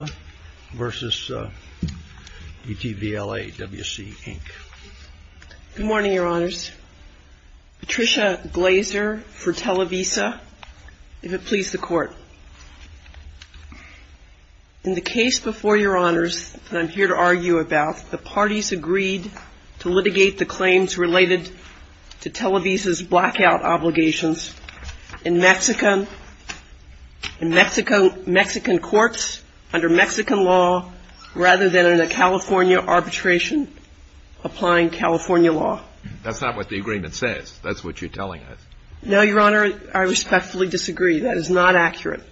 Good morning, Your Honors. Patricia Glazer for Televisa, if it please the Court. In the case before Your Honors that I'm here to argue about, the parties agreed to litigate the claims related to Televisa's blackout obligations. In Mexican courts, under Mexican law, the parties applied Mexican law rather than under in a California arbitration, applying California law. That's not what the agreement says, that's what you're telling us? No, Your Honor, I respectfully disintegrate, that is not accurate.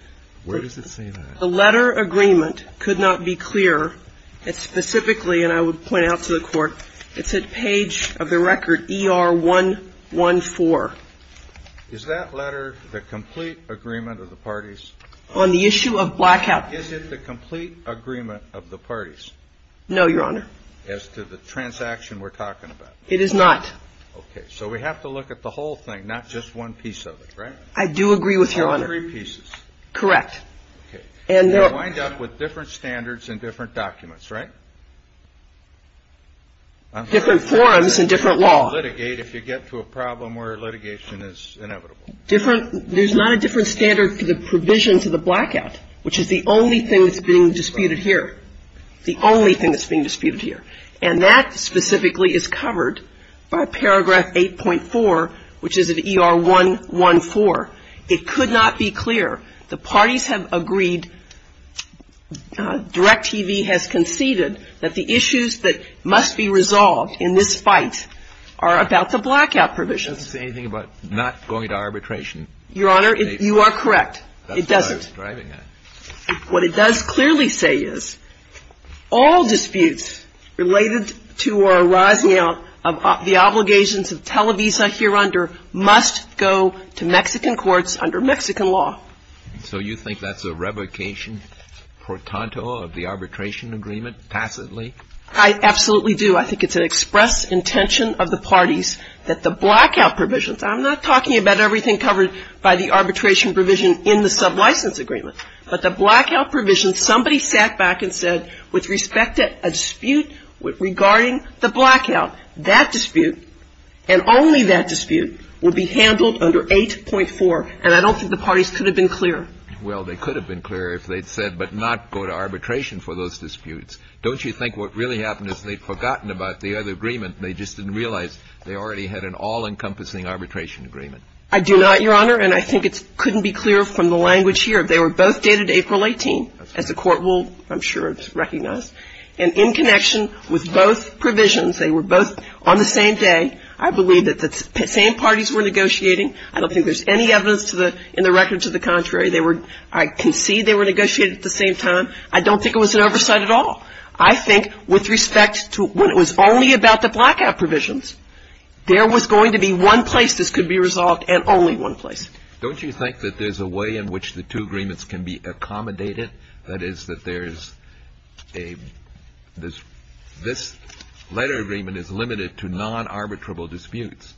Where does it say that? The letter agreement could not be clearer. It specifically and I would point out to the Court, it's in page of the record, ER 1254. Is that letter the complete agreement of the parties? On the issue of blackout. Is it the complete agreement of the parties? No, Your Honor. As to the transaction we're talking about? It is not. Okay. So we have to look at the whole thing, not just one piece of it, right? I do agree with Your Honor. There are three pieces. Correct. Okay. And there are They wind up with different standards and different documents, right? Different forums and different law. Litigate if you get to a problem where litigation is inevitable. Different – there's not a different standard for the provisions of the blackout, which is the only thing that's being disputed here. The only thing that's being disputed here. And that specifically is covered by paragraph 8.4, which is in ER 114. It could not be clearer. The parties have agreed, Direct TV has conceded that the issues that must be resolved in this fight are about the blackout provisions. Does it say anything about not going to arbitration? Your Honor, you are correct. It doesn't. I'm just driving at it. What it does clearly say is all disputes related to or arising out of the obligations of Televisa hereunder must go to Mexican courts under Mexican law. So you think that's a revocation portanto of the arbitration agreement tacitly? I absolutely do. I think it's an express intention of the parties that the blackout provisions I'm not talking about everything covered by the arbitration provision in the sublicense agreement, but the blackout provision, somebody sat back and said, with respect to a dispute regarding the blackout, that dispute and only that dispute would be handled under 8.4, and I don't think the parties could have been clearer. Well, they could have been clearer if they'd said but not go to arbitration for those disputes. Don't you think what really happened is they'd forgotten about the other agreement and they just didn't realize they already had an all-encompassing arbitration agreement? I do not, Your Honor, and I think it couldn't be clearer from the language here. They were both dated April 18, as the Court will, I'm sure, recognize, and in connection with both provisions, they were both on the same day. I believe that the same parties were negotiating. I don't think there's any evidence in the record to the contrary. They were – I can see they were negotiating at the same time. I don't think it was an oversight at all. I think with respect to when it was only about the blackout provisions, there was going to be one place this could be resolved and only one place. Don't you think that there's a way in which the two agreements can be accommodated? That is, that there's a – this letter agreement is limited to non-arbitrable disputes.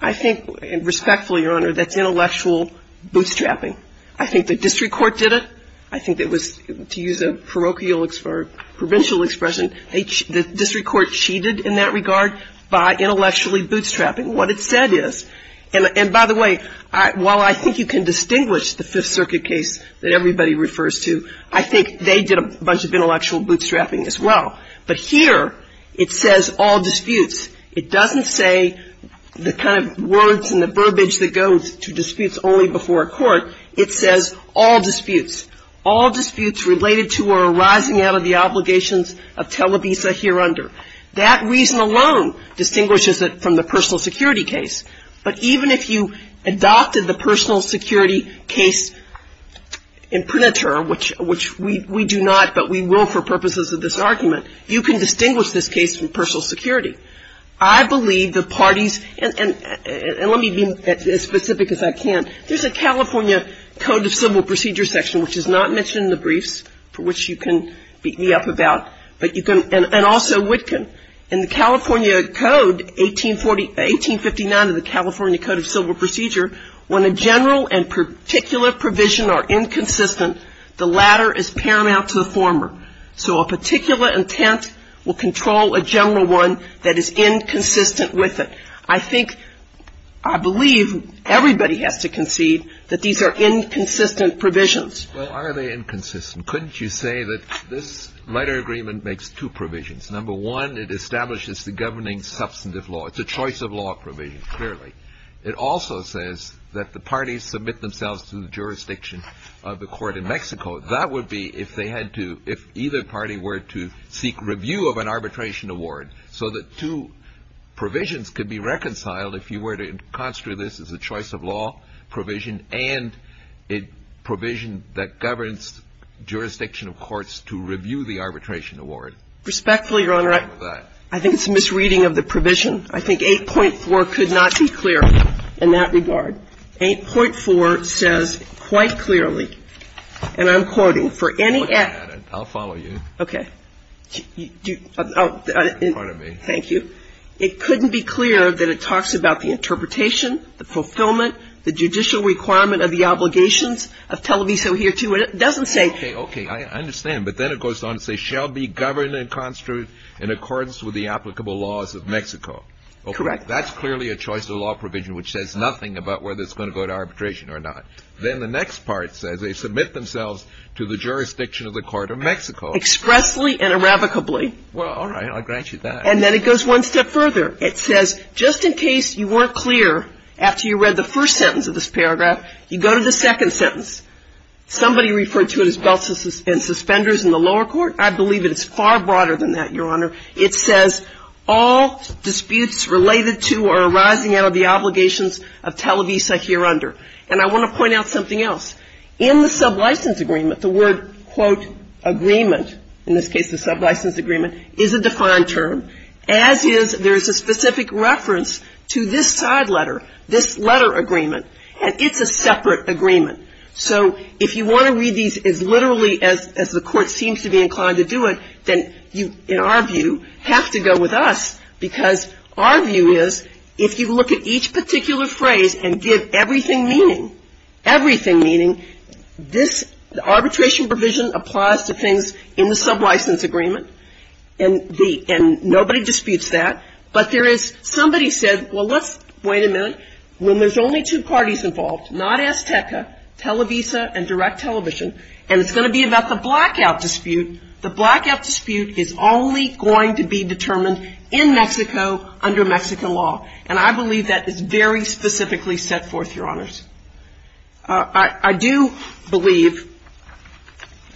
I think, respectfully, Your Honor, that's intellectual bootstrapping. I think the district court did it. I think it was, to use a parochial or provincial expression, the district court cheated in that regard by intellectually bootstrapping. What it said is – and by the way, while I think you can distinguish the Fifth Circuit case that everybody refers to, I think they did a bunch of intellectual bootstrapping as well. But here it says all disputes. It doesn't say the kind of words and the verbiage that goes to disputes only before a court. It says all disputes. All disputes related to or arising out of the obligations of Televisa hereunder. That reason alone distinguishes it from the personal security case. But even if you adopted the personal security case in Prinater, which we do not, but we will for purposes of this argument, you can distinguish this case from personal security. I believe the parties – and let me be as specific as I can. There's a California Code of Civil Procedure section, which is not mentioned in the briefs, for which you can beat me up about, but you can – and also Witkin. In the California Code, 1849 of the California Code of Civil Procedure, when a general and particular provision are inconsistent, the latter is paramount to the former. So a particular intent will control a general one that is inconsistent with it. I think – I believe everybody has to concede that these are inconsistent provisions. Well, are they inconsistent? Couldn't you say that this letter agreement makes two provisions? Number one, it establishes the governing substantive law. It's a choice of law provision, clearly. It also says that the parties submit themselves to the jurisdiction of the court in Mexico. That would be if they had to – if either party were to seek review of an arbitration award. So the two provisions could be reconciled if you were to construe this as a choice of law provision and a provision that governs jurisdiction of courts to review the arbitration award. Respectfully, Your Honor, I think it's a misreading of the provision. I think 8.4 could not be clearer in that regard. 8.4 says quite clearly, and I'm quoting, for any – I'll follow you. Okay. Pardon me. Thank you. It couldn't be clearer that it talks about the interpretation, the fulfillment, the judicial requirement of the obligations of Televiso here to – it doesn't say – Okay. Okay. I understand. But then it goes on to say, shall be governed and construed in accordance with the applicable laws of Mexico. Correct. That's clearly a choice of law provision, which says nothing about whether it's Then the next part says they submit themselves to the jurisdiction of the court of Mexico. Expressly and irrevocably. Well, all right. I'll grant you that. And then it goes one step further. It says, just in case you weren't clear after you read the first sentence of this paragraph, you go to the second sentence. Somebody referred to it as belts and suspenders in the lower court. I believe it's far broader than that, Your Honor. It says all disputes related to or arising out of the obligations of Televisa here under. And I want to point out something else. In the sublicense agreement, the word, quote, agreement, in this case the sublicense agreement, is a defined term, as is there is a specific reference to this side letter, this letter agreement. And it's a separate agreement. So if you want to read these as literally as the court seems to be inclined to do it, then you, in our view, have to go with us. Because our view is, if you look at each particular phrase and give everything meaning, everything meaning, this arbitration provision applies to things in the sublicense agreement. And the, and nobody disputes that. But there is, somebody said, well, let's, wait a minute, when there's only two parties involved, not Azteca, Televisa, and direct television, and it's going to be about the blackout dispute, the blackout dispute is only going to be determined in Mexico under Mexican law. And I believe that is very specifically set forth, Your Honors. I do believe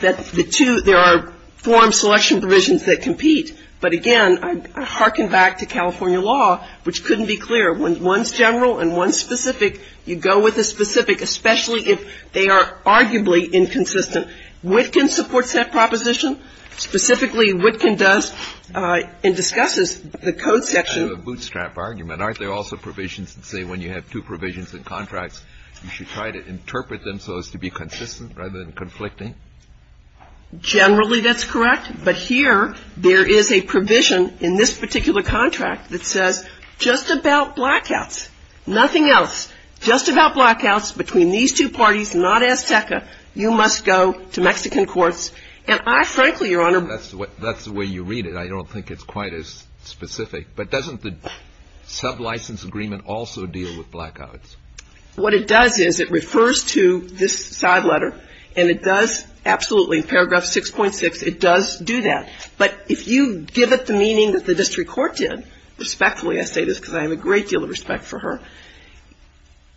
that the two, there are forum selection provisions that compete. But again, I harken back to California law, which couldn't be clearer. When one's general and one's specific, you go with the specific, especially if they are arguably inconsistent. Witkin supports that proposition. Specifically, Witkin does and discusses the code section. Kennedy, you have a bootstrap argument. Aren't there also provisions that say when you have two provisions in contracts, you should try to interpret them so as to be consistent rather than conflicting? Generally, that's correct. But here, there is a provision in this particular contract that says, just about blackouts, nothing else, just about blackouts between these two parties, not Azteca, you must go to Mexican courts. And I frankly, Your Honor That's the way you read it. I don't think it's quite as specific. But doesn't the sublicense agreement also deal with blackouts? What it does is, it refers to this side letter, and it does absolutely, in paragraph 6.6, it does do that. But if you give it the meaning that the district court did, respectfully, I say this because I have a great deal of respect for her.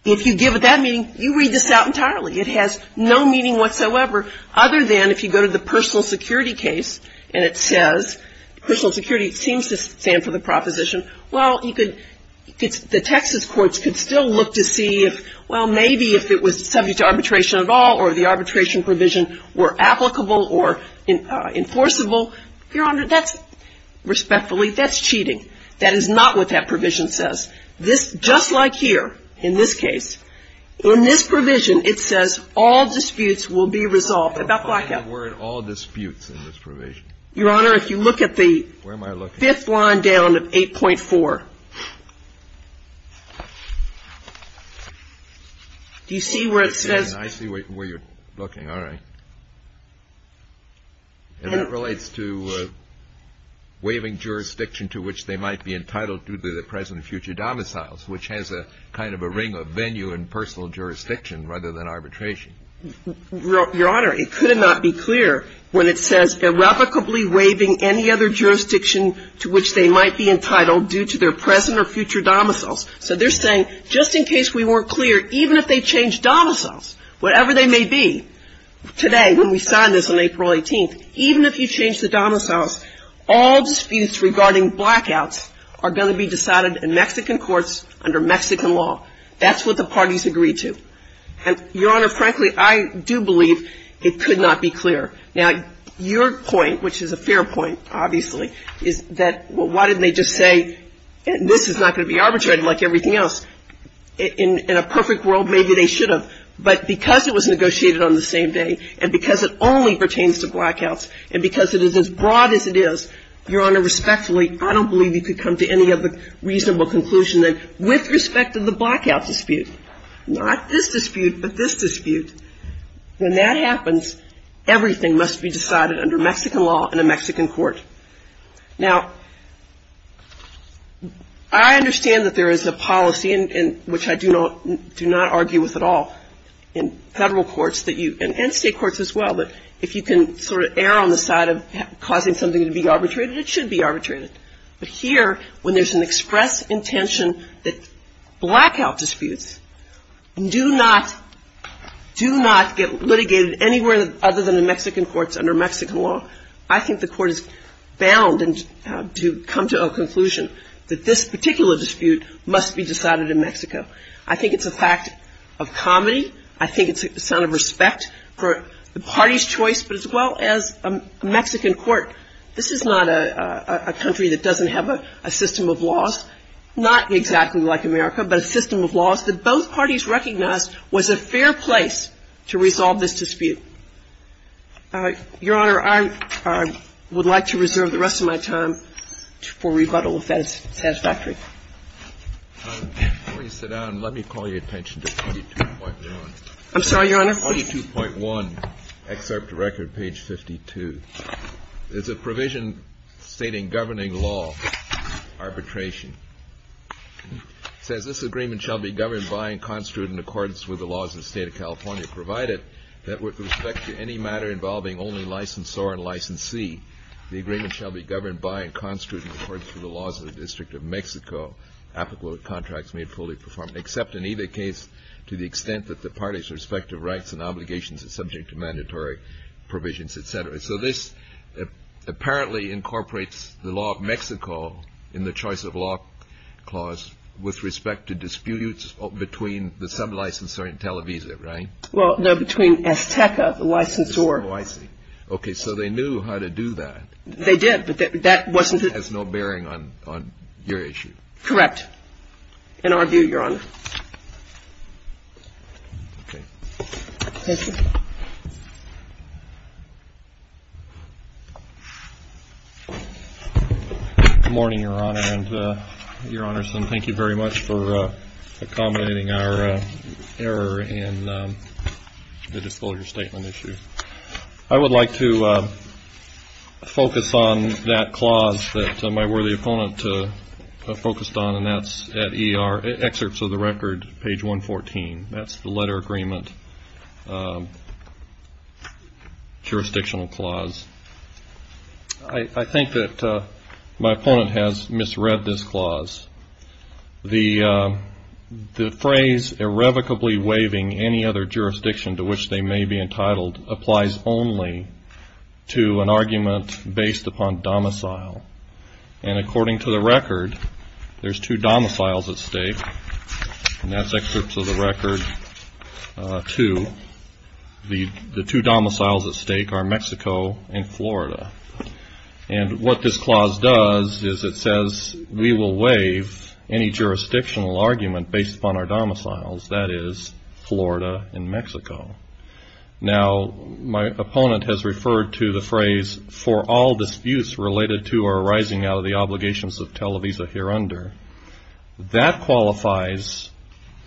If you give it that meaning, you read this out entirely. It has no meaning whatsoever other than if you go to the personal security case, and it says, personal security seems to stand for the proposition. Well, you could, the Texas courts could still look to see if, well, maybe if it was subject to arbitration at all, or the arbitration provision were applicable or enforceable. Your Honor, that's respectfully, that's cheating. That is not what that provision says. This, just like here, in this case, in this provision, it says all disputes will be resolved about blackout. And we're in all disputes in this provision. Your Honor, if you look at the- Where am I looking? Fifth line down at 8.4. Do you see where it says- I see where you're looking, all right. And it relates to waiving jurisdiction to which they might be entitled due to the present and future domiciles, which has a kind of a ring of venue in personal jurisdiction rather than arbitration. Your Honor, it could not be clear when it says irrevocably waiving any other jurisdiction to which they might be entitled due to their present or future domiciles. So they're saying, just in case we weren't clear, even if they change domiciles, whatever they may be, today, when we sign this on April 18th, even if you change the domiciles, all disputes regarding blackouts are going to be decided in Mexican courts under Mexican law. That's what the parties agreed to. And, Your Honor, frankly, I do believe it could not be clear. Now, your point, which is a fair point, obviously, is that, well, why didn't they just say, this is not going to be arbitrated like everything else? In a perfect world, maybe they should have. But because it was negotiated on the same day, and because it only pertains to blackouts, and because it is as broad as it is, Your Honor, respectfully, I don't believe you could come to any other reasonable conclusion than with respect to the blackout dispute. Not this dispute, but this dispute. When that happens, everything must be decided under Mexican law in a Mexican court. Now, I understand that there is a policy, which I do not argue with at all, in federal courts and state courts as well, that if you can sort of err on the side of causing something to be arbitrated, it should be arbitrated. But here, when there is an express intention that blackout disputes do not get litigated anywhere other than in Mexican courts under Mexican law, I think the court is bound to come to a conclusion that this particular dispute must be decided in Mexico. I think it's a fact of comedy. I think it's a sign of respect for the party's choice, but as well as a Mexican court. This is not a country that doesn't have a system of laws, not exactly like America, but a system of laws that both parties recognized was a fair place to resolve this dispute. Your Honor, I would like to reserve the rest of my time for rebuttal if that is satisfactory. Before you sit down, let me call your attention to 52.1. I'm sorry, Your Honor? 42.1, excerpt to record, page 52. It's a provision stating governing law arbitration. Says this agreement shall be governed by and constitute in accordance with the laws of the state of California, provided that with respect to any matter involving only licensor and licensee, the agreement shall be governed by and constitute in accordance with the laws of the District of Mexico, applicable to contracts made fully performed, except in either case to the extent that the party's respective rights and obligations are subject to mandatory provisions, et cetera. So this apparently incorporates the law of Mexico in the choice of law clause with respect to disputes between the sub-licensor and Televisa, right? Well, no, between Esteca, the licensor. Oh, I see. Okay, so they knew how to do that. They did, but that wasn't it. It has no bearing on your issue. Correct, in our view, Your Honor. Okay. Yes, sir. Good morning, Your Honor, and Your Honors, and thank you very much for accommodating our error in the disclosure statement issue. I would like to focus on that clause that my worthy opponent focused on, and that's at excerpts of the record, page 114. That's the letter agreement jurisdictional clause. I think that my opponent has misread this clause. The phrase irrevocably waiving any other jurisdiction to which they may be entitled applies only to an argument based upon domicile. And according to the record, there's two domiciles at stake, and that's excerpts of the record, too. The two domiciles at stake are Mexico and Florida. And what this clause does is it says we will waive any jurisdictional argument based upon our domiciles, that is, Florida and Mexico. Now, my opponent has referred to the phrase for all disputes related to or arising out of the obligations of Televisa hereunder. That qualifies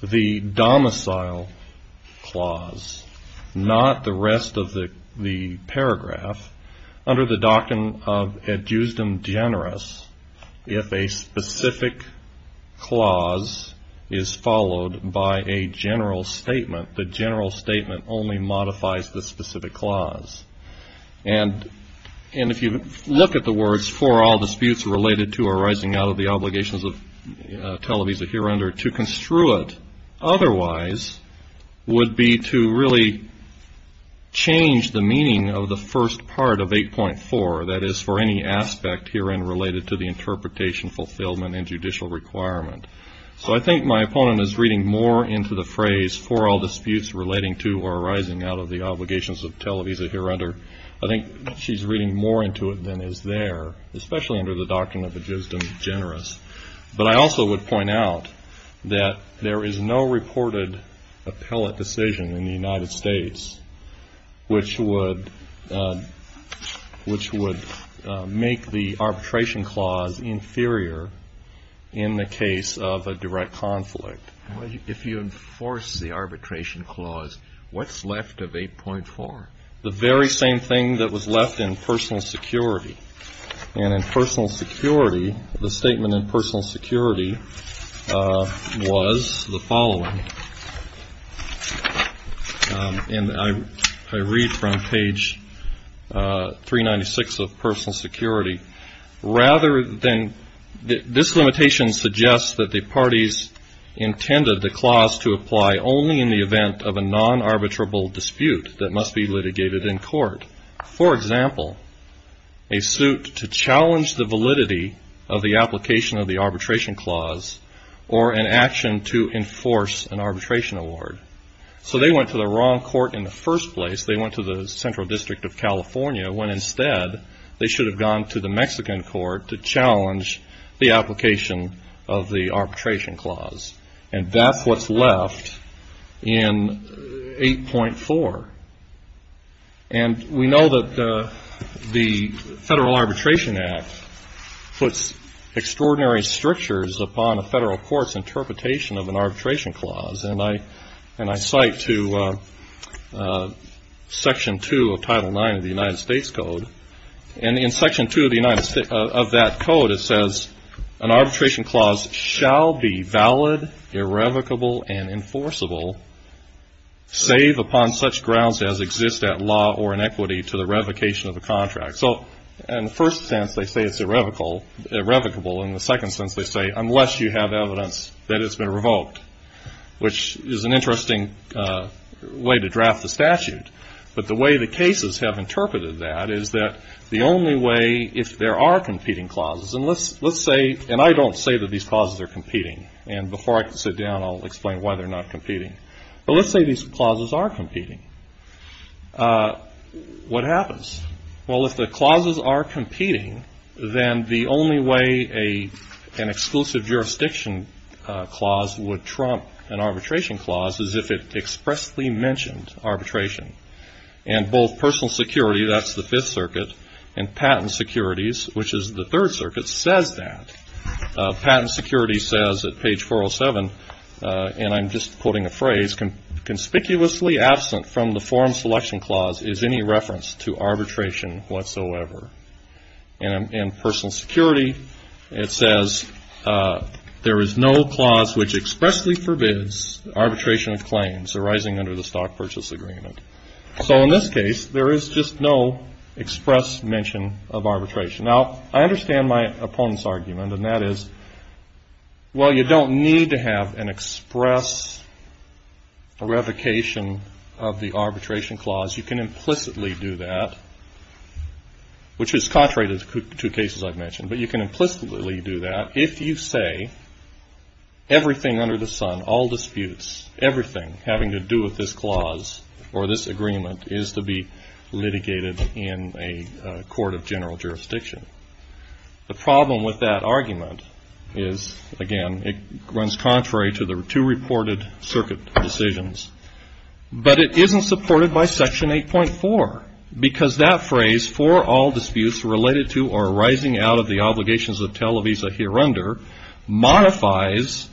the domicile clause, not the rest of the paragraph, under the doctrine of ad justem generis, if a specific clause is followed by a general statement. The general statement only modifies the specific clause. And if you look at the words for all disputes related to or arising out of the obligations of Televisa hereunder, to construe it otherwise would be to really change the meaning of the first part of 8.4, that is, for any aspect herein related to the interpretation, fulfillment, and judicial requirement. So I think my opponent is reading more into the phrase for all disputes relating to or arising out of the obligations of Televisa hereunder. I think she's reading more into it than is there, especially under the doctrine of ad justem generis. But I also would point out that there is no reported appellate decision in the United of a direct conflict. If you enforce the arbitration clause, what's left of 8.4? The very same thing that was left in personal security. And in personal security, the statement in personal security was the following. And I read from page 396 of personal security. Rather than, this limitation suggests that the parties intended the clause to apply only in the event of a non-arbitrable dispute that must be litigated in court. For example, a suit to challenge the validity of the application of the arbitration clause or an action to enforce an arbitration award. So they went to the wrong court in the first place. They went to the Central District of California when instead they should have gone to the Mexican court to challenge the application of the arbitration clause. And that's what's left in 8.4. And we know that the Federal Arbitration Act puts extraordinary strictures upon a federal court's interpretation of an arbitration clause. And I cite to Section 2 of Title IX of the United States Code. And in Section 2 of that code it says, an arbitration clause shall be valid, irrevocable, and enforceable, save upon such grounds as exist at law or in equity to the revocation of a contract. So in the first sense they say it's irrevocable. In the second sense they say, unless you have evidence that it's been revoked. Which is an interesting way to draft the statute. But the way the cases have interpreted that is that the only way if there are competing clauses, and let's say, and I don't say that these clauses are competing. And before I sit down I'll explain why they're not competing. But let's say these clauses are competing. What happens? Well, if the clauses are competing, then the only way an exclusive jurisdiction clause would trump an arbitration clause is if it expressly mentioned arbitration. And both personal security, that's the Fifth Circuit, and patent securities, which is the Third Circuit, says that. Patent security says at page 407, and I'm just quoting a phrase, conspicuously absent from the forum selection clause is any reference to arbitration whatsoever. And personal security, it says, there is no clause which expressly forbids arbitration of claims arising under the stock purchase agreement. So in this case, there is just no express mention of arbitration. Now, I understand my opponent's argument, and that is, well, you don't need to have an express revocation of the arbitration clause. You can implicitly do that, which is contrary to the two cases I've mentioned. But you can implicitly do that if you say everything under the sun, all disputes, everything having to do with this clause or this agreement is to be litigated in a court of general jurisdiction. The problem with that argument is, again, it runs contrary to the two reported circuit decisions, but it isn't supported by Section 8.4, because that phrase, for all disputes related to or arising out of the obligations of Televisa hereunder, modifies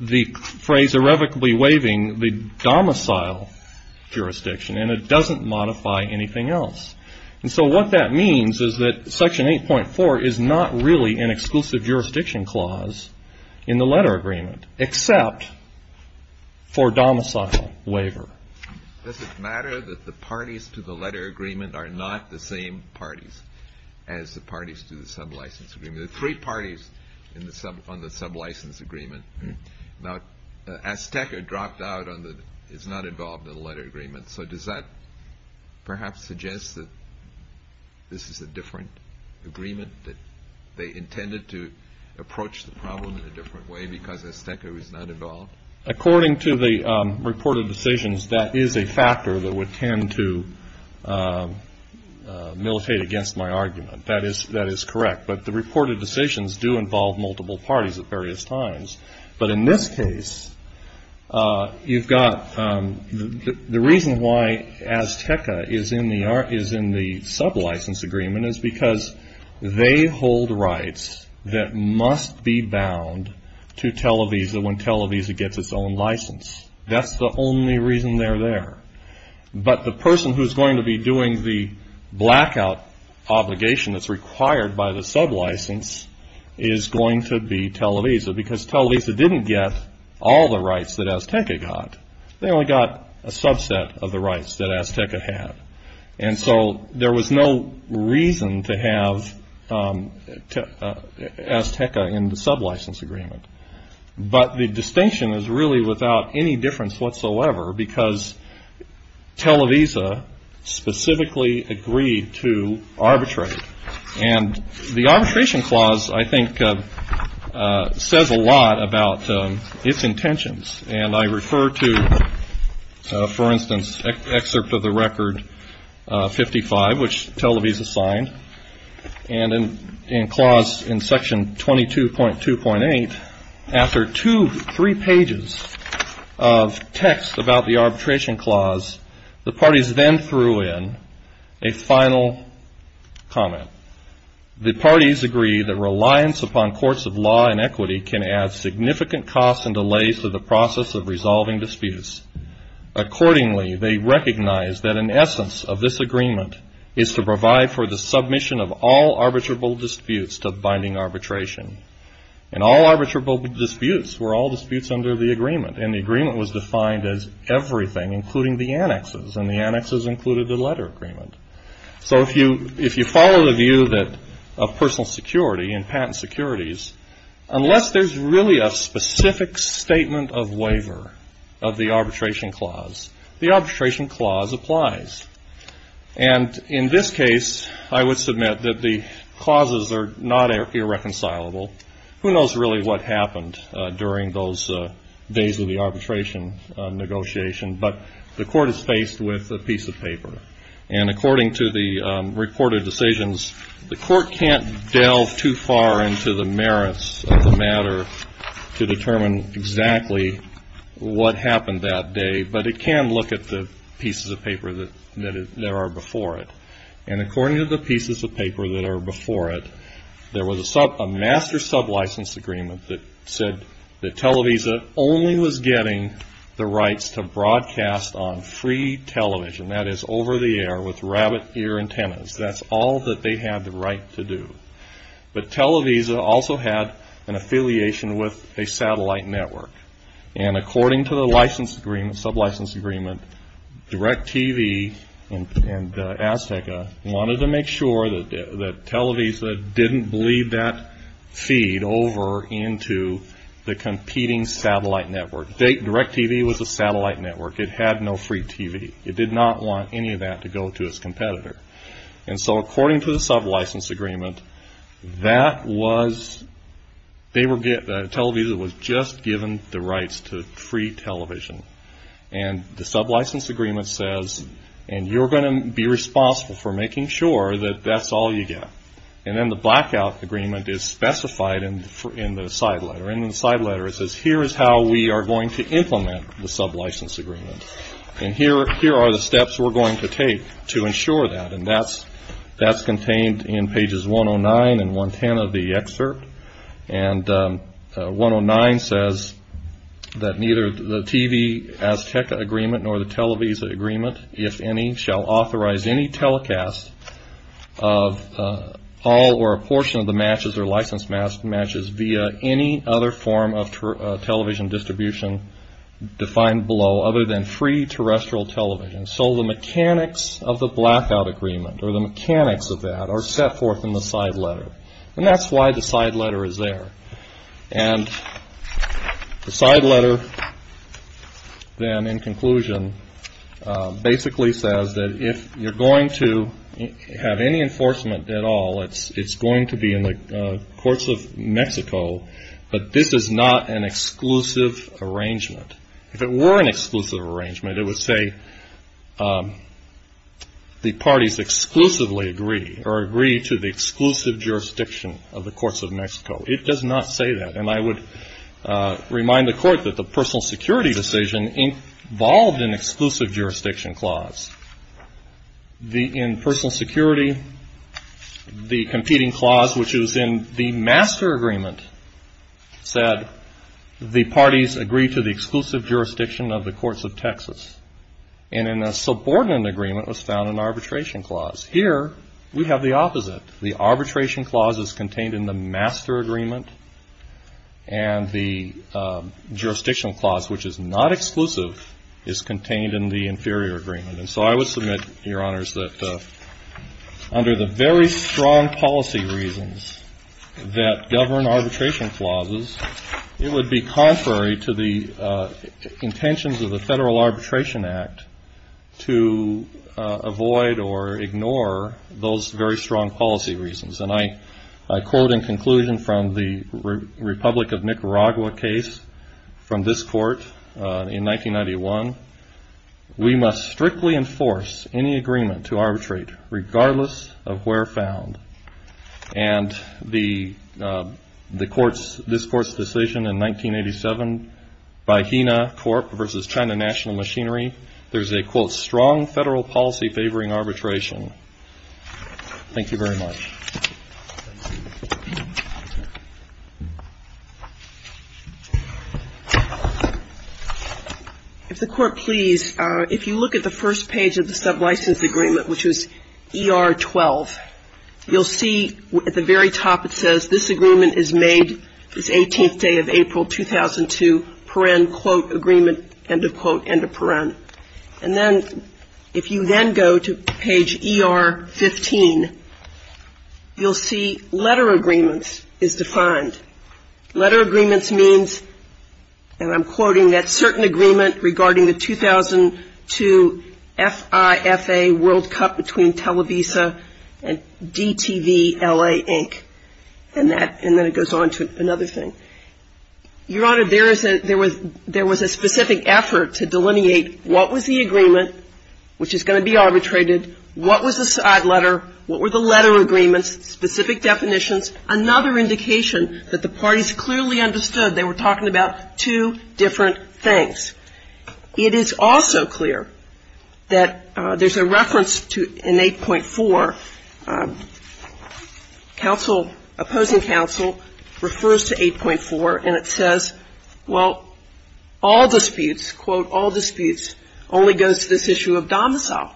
the phrase irrevocably waiving the domicile jurisdiction, and it doesn't modify anything else. And so what that means is that Section 8.4 is not really an exclusive jurisdiction clause in the letter agreement, except for domicile waiver. Does it matter that the parties to the letter agreement are not the same parties as the parties to the sub-license agreement? There are three parties on the sub-license agreement. Now, Azteca dropped out on the, is not involved in the letter agreement. So does that perhaps suggest that this is a different agreement that they intended to approach the problem in a different way because Azteca is not involved? According to the reported decisions, that is a factor that would tend to militate against my argument. That is correct. But the reported decisions do involve multiple parties at various times. But in this case, you've got, the reason why Azteca is in the sub-license agreement is because they hold rights that must be bound to Televisa when Televisa gets its own license. That's the only reason they're there. But the person who's going to be doing the blackout obligation that's required by the sub-license is going to be Televisa. Because Televisa didn't get all the rights that Azteca got. They only got a subset of the rights that Azteca had. And so there was no reason to have Azteca in the sub-license agreement. But the distinction is really without any difference whatsoever, because Televisa specifically agreed to arbitrate. And the arbitration clause, I think, says a lot about its intentions. And I refer to, for instance, excerpt of the record 55, which Televisa signed. And in clause, in section 22.2.8, after two, three pages of text about the arbitration clause, the parties then threw in a final comment. The parties agree that reliance upon courts of law and the process of resolving disputes. Accordingly, they recognize that an essence of this agreement is to provide for the submission of all arbitrable disputes to binding arbitration. And all arbitrable disputes were all disputes under the agreement. And the agreement was defined as everything, including the annexes. And the annexes included the letter agreement. So if you follow the view of personal security and patent securities, unless there's really a specific statement of waiver of the arbitration clause, the arbitration clause applies. And in this case, I would submit that the clauses are not irreconcilable. Who knows really what happened during those days of the arbitration negotiation. But the court is faced with a piece of paper. And according to the reported decisions, the court can't delve too far into the merits of the matter to determine exactly what happened that day. But it can look at the pieces of paper that are before it. And according to the pieces of paper that are before it, there was a master sub-license agreement that said that Televisa only was getting the rights to broadcast on free television. That is over the air with rabbit ear antennas. That's all that they had the right to do. But Televisa also had an affiliation with a satellite network. And according to the license agreement, sub-license agreement, DirecTV and Azteca wanted to make sure that Televisa didn't bleed that feed over into the competing satellite network. DirecTV was a satellite network. It had no free TV. It did not want any of that to go to its competitor. And so according to the sub-license agreement, that was, Televisa was just given the rights to free television. And the sub-license agreement says, and you're going to be responsible for making sure that that's all you get. And then the blackout agreement is specified in the side letter. And in the side letter it says, here is how we are going to implement the sub-license agreement. And here are the steps we're going to take to ensure that. And that's contained in pages 109 and 110 of the excerpt. And 109 says that neither the TV-Azteca agreement nor the Televisa agreement, if any, shall authorize any telecast of all or a portion of the matches or licensed matches via any other form of television distribution defined below other than free terrestrial television. So the mechanics of the blackout agreement, or the mechanics of that, are set forth in the side letter. And that's why the side letter is there. And the side letter then, in conclusion, basically says that if you're going to have any enforcement at all, it's going to be in the courts of Mexico. But this is not an exclusive arrangement. If it were an exclusive arrangement, it would say, the parties exclusively agree or agree to the exclusive jurisdiction of the courts of Mexico. It does not say that. And I would remind the court that the personal security decision involved an exclusive jurisdiction clause. In personal security, the competing clause, which is in the master agreement, said the parties agree to the exclusive jurisdiction of the courts of Texas. And in a subordinate agreement was found an arbitration clause. Here, we have the opposite. The arbitration clause is contained in the master agreement. And the jurisdictional clause, which is not exclusive, is contained in the inferior agreement. And so I would submit, Your Honors, that under the very strong policy reasons that govern arbitration clauses, it would be contrary to the intentions of the Federal Arbitration Act to avoid or ignore those very strong policy reasons. And I quote in conclusion from the Republic of Nicaragua case from this court in 1991, we must strictly enforce any agreement to arbitrate regardless of where found. And the court's, this court's decision in 1987 by Hena Corp versus China National Machinery, there's a quote, strong federal policy favoring arbitration. Thank you very much. If the court please, if you look at the first page of the sub-license agreement, which is ER 12, you'll see at the very top it says, this agreement is made this 18th day of April, 2002, paren, quote, agreement, end of quote, end of paren. And then if you then go to page ER 15, you'll see letter agreements is defined. Letter agreements means, and I'm quoting that certain agreement regarding the 2002 FIFA World Cup between Televisa and DTVLA, Inc. And that, and then it goes on to another thing. Your Honor, there is a, there was, there was a specific effort to delineate what was the agreement, which is going to be arbitrated, what was the side letter, what were the letter agreements, specific definitions, another indication that the parties clearly understood they were talking about two different things. It is also clear that there's a reference to an 8.4. Counsel, opposing counsel refers to 8.4, and it says, well, all disputes, quote, all disputes, only goes to this issue of domicile.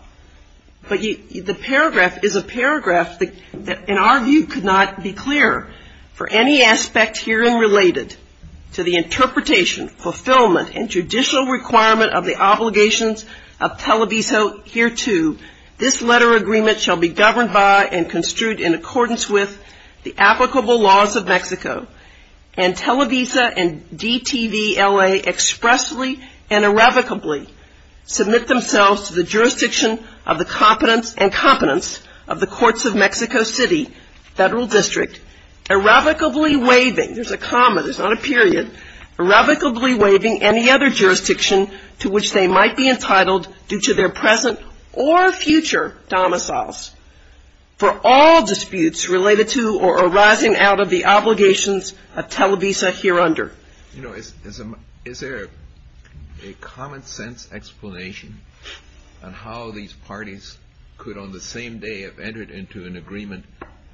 But the paragraph is a paragraph that, in our view, could not be clearer. For any aspect herein related to the interpretation, fulfillment, and judicial requirement of the obligations of Televisa hereto, this letter agreement shall be governed by and construed in accordance with the applicable laws of Mexico, and Televisa and DTVLA expressly and irrevocably submit themselves to the jurisdiction of the competence and competence of the courts of Mexico City Federal District, irrevocably waiving, there's a comma, there's not a period, irrevocably waiving any other jurisdiction to which they might be entitled due to their present or future domiciles for all disputes related to or arising out of the obligations of Televisa hereunder. You know, is there a common-sense explanation on how these parties could, on the same day, have entered into an agreement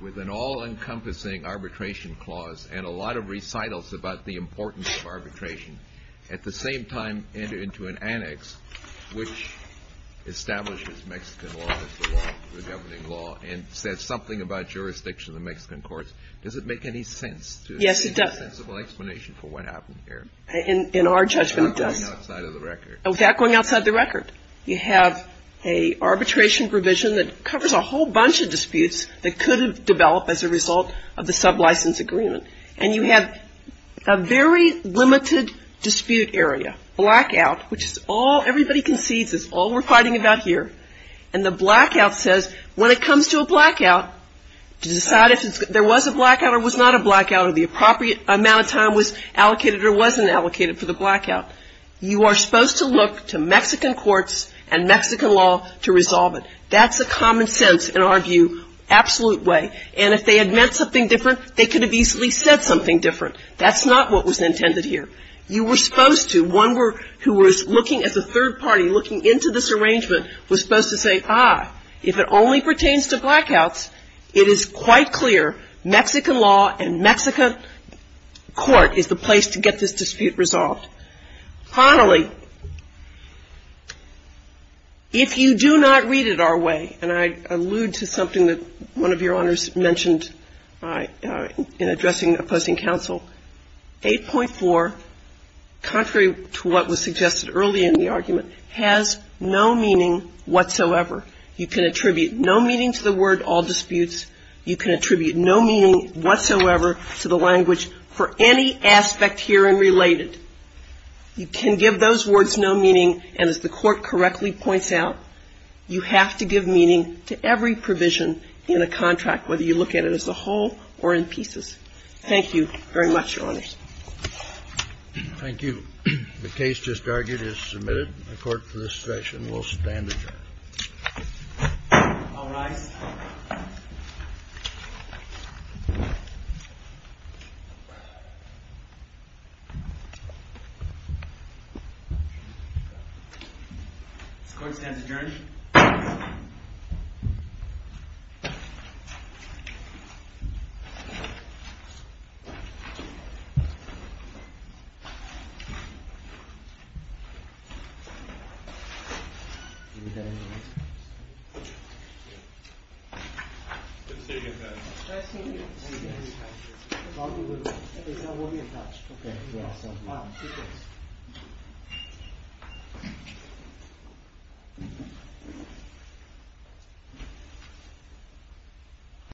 with an all-encompassing arbitration clause and a lot of recitals about the importance of arbitration, at the same time enter into an annex which establishes Mexican law as the law, the governing law, and says something about jurisdiction of the Mexican courts? Does it make any sense? Yes, it does. There's no sensible explanation for what happened here. In our judgment, it does. Without going outside of the record. Without going outside the record. You have an arbitration provision that covers a whole bunch of disputes that could have developed as a result of the sublicense agreement, and you have a very limited dispute area, blackout, which is all everybody concedes is all we're fighting about here, and the blackout says when it comes to a blackout, to decide if there was a blackout or was not a blackout, or the appropriate amount of time was allocated or wasn't allocated for the blackout. You are supposed to look to Mexican courts and Mexican law to resolve it. That's a common sense, in our view, absolute way. And if they had meant something different, they could have easily said something different. That's not what was intended here. You were supposed to, one who was looking as a third party, looking into this arrangement was supposed to say, ah, if it only pertains to blackouts, it is quite clear Mexican law and Mexican court is the place to get this dispute resolved. Finally, if you do not read it our way, and I allude to something that one of your Honors mentioned in addressing opposing counsel, 8.4, contrary to what was suggested earlier in the argument, has no meaning whatsoever. You can attribute no meaning to the word all disputes. You can attribute no meaning whatsoever to the language for any aspect herein related. You can give those words no meaning, and as the Court correctly points out, you have to give meaning to every provision in a contract, whether you look at it as a whole or in pieces. Thank you very much, Your Honors. Thank you. The case just argued is submitted. The Court for this session will stand adjourned. All rise. This Court stands adjourned. This Court stands adjourned.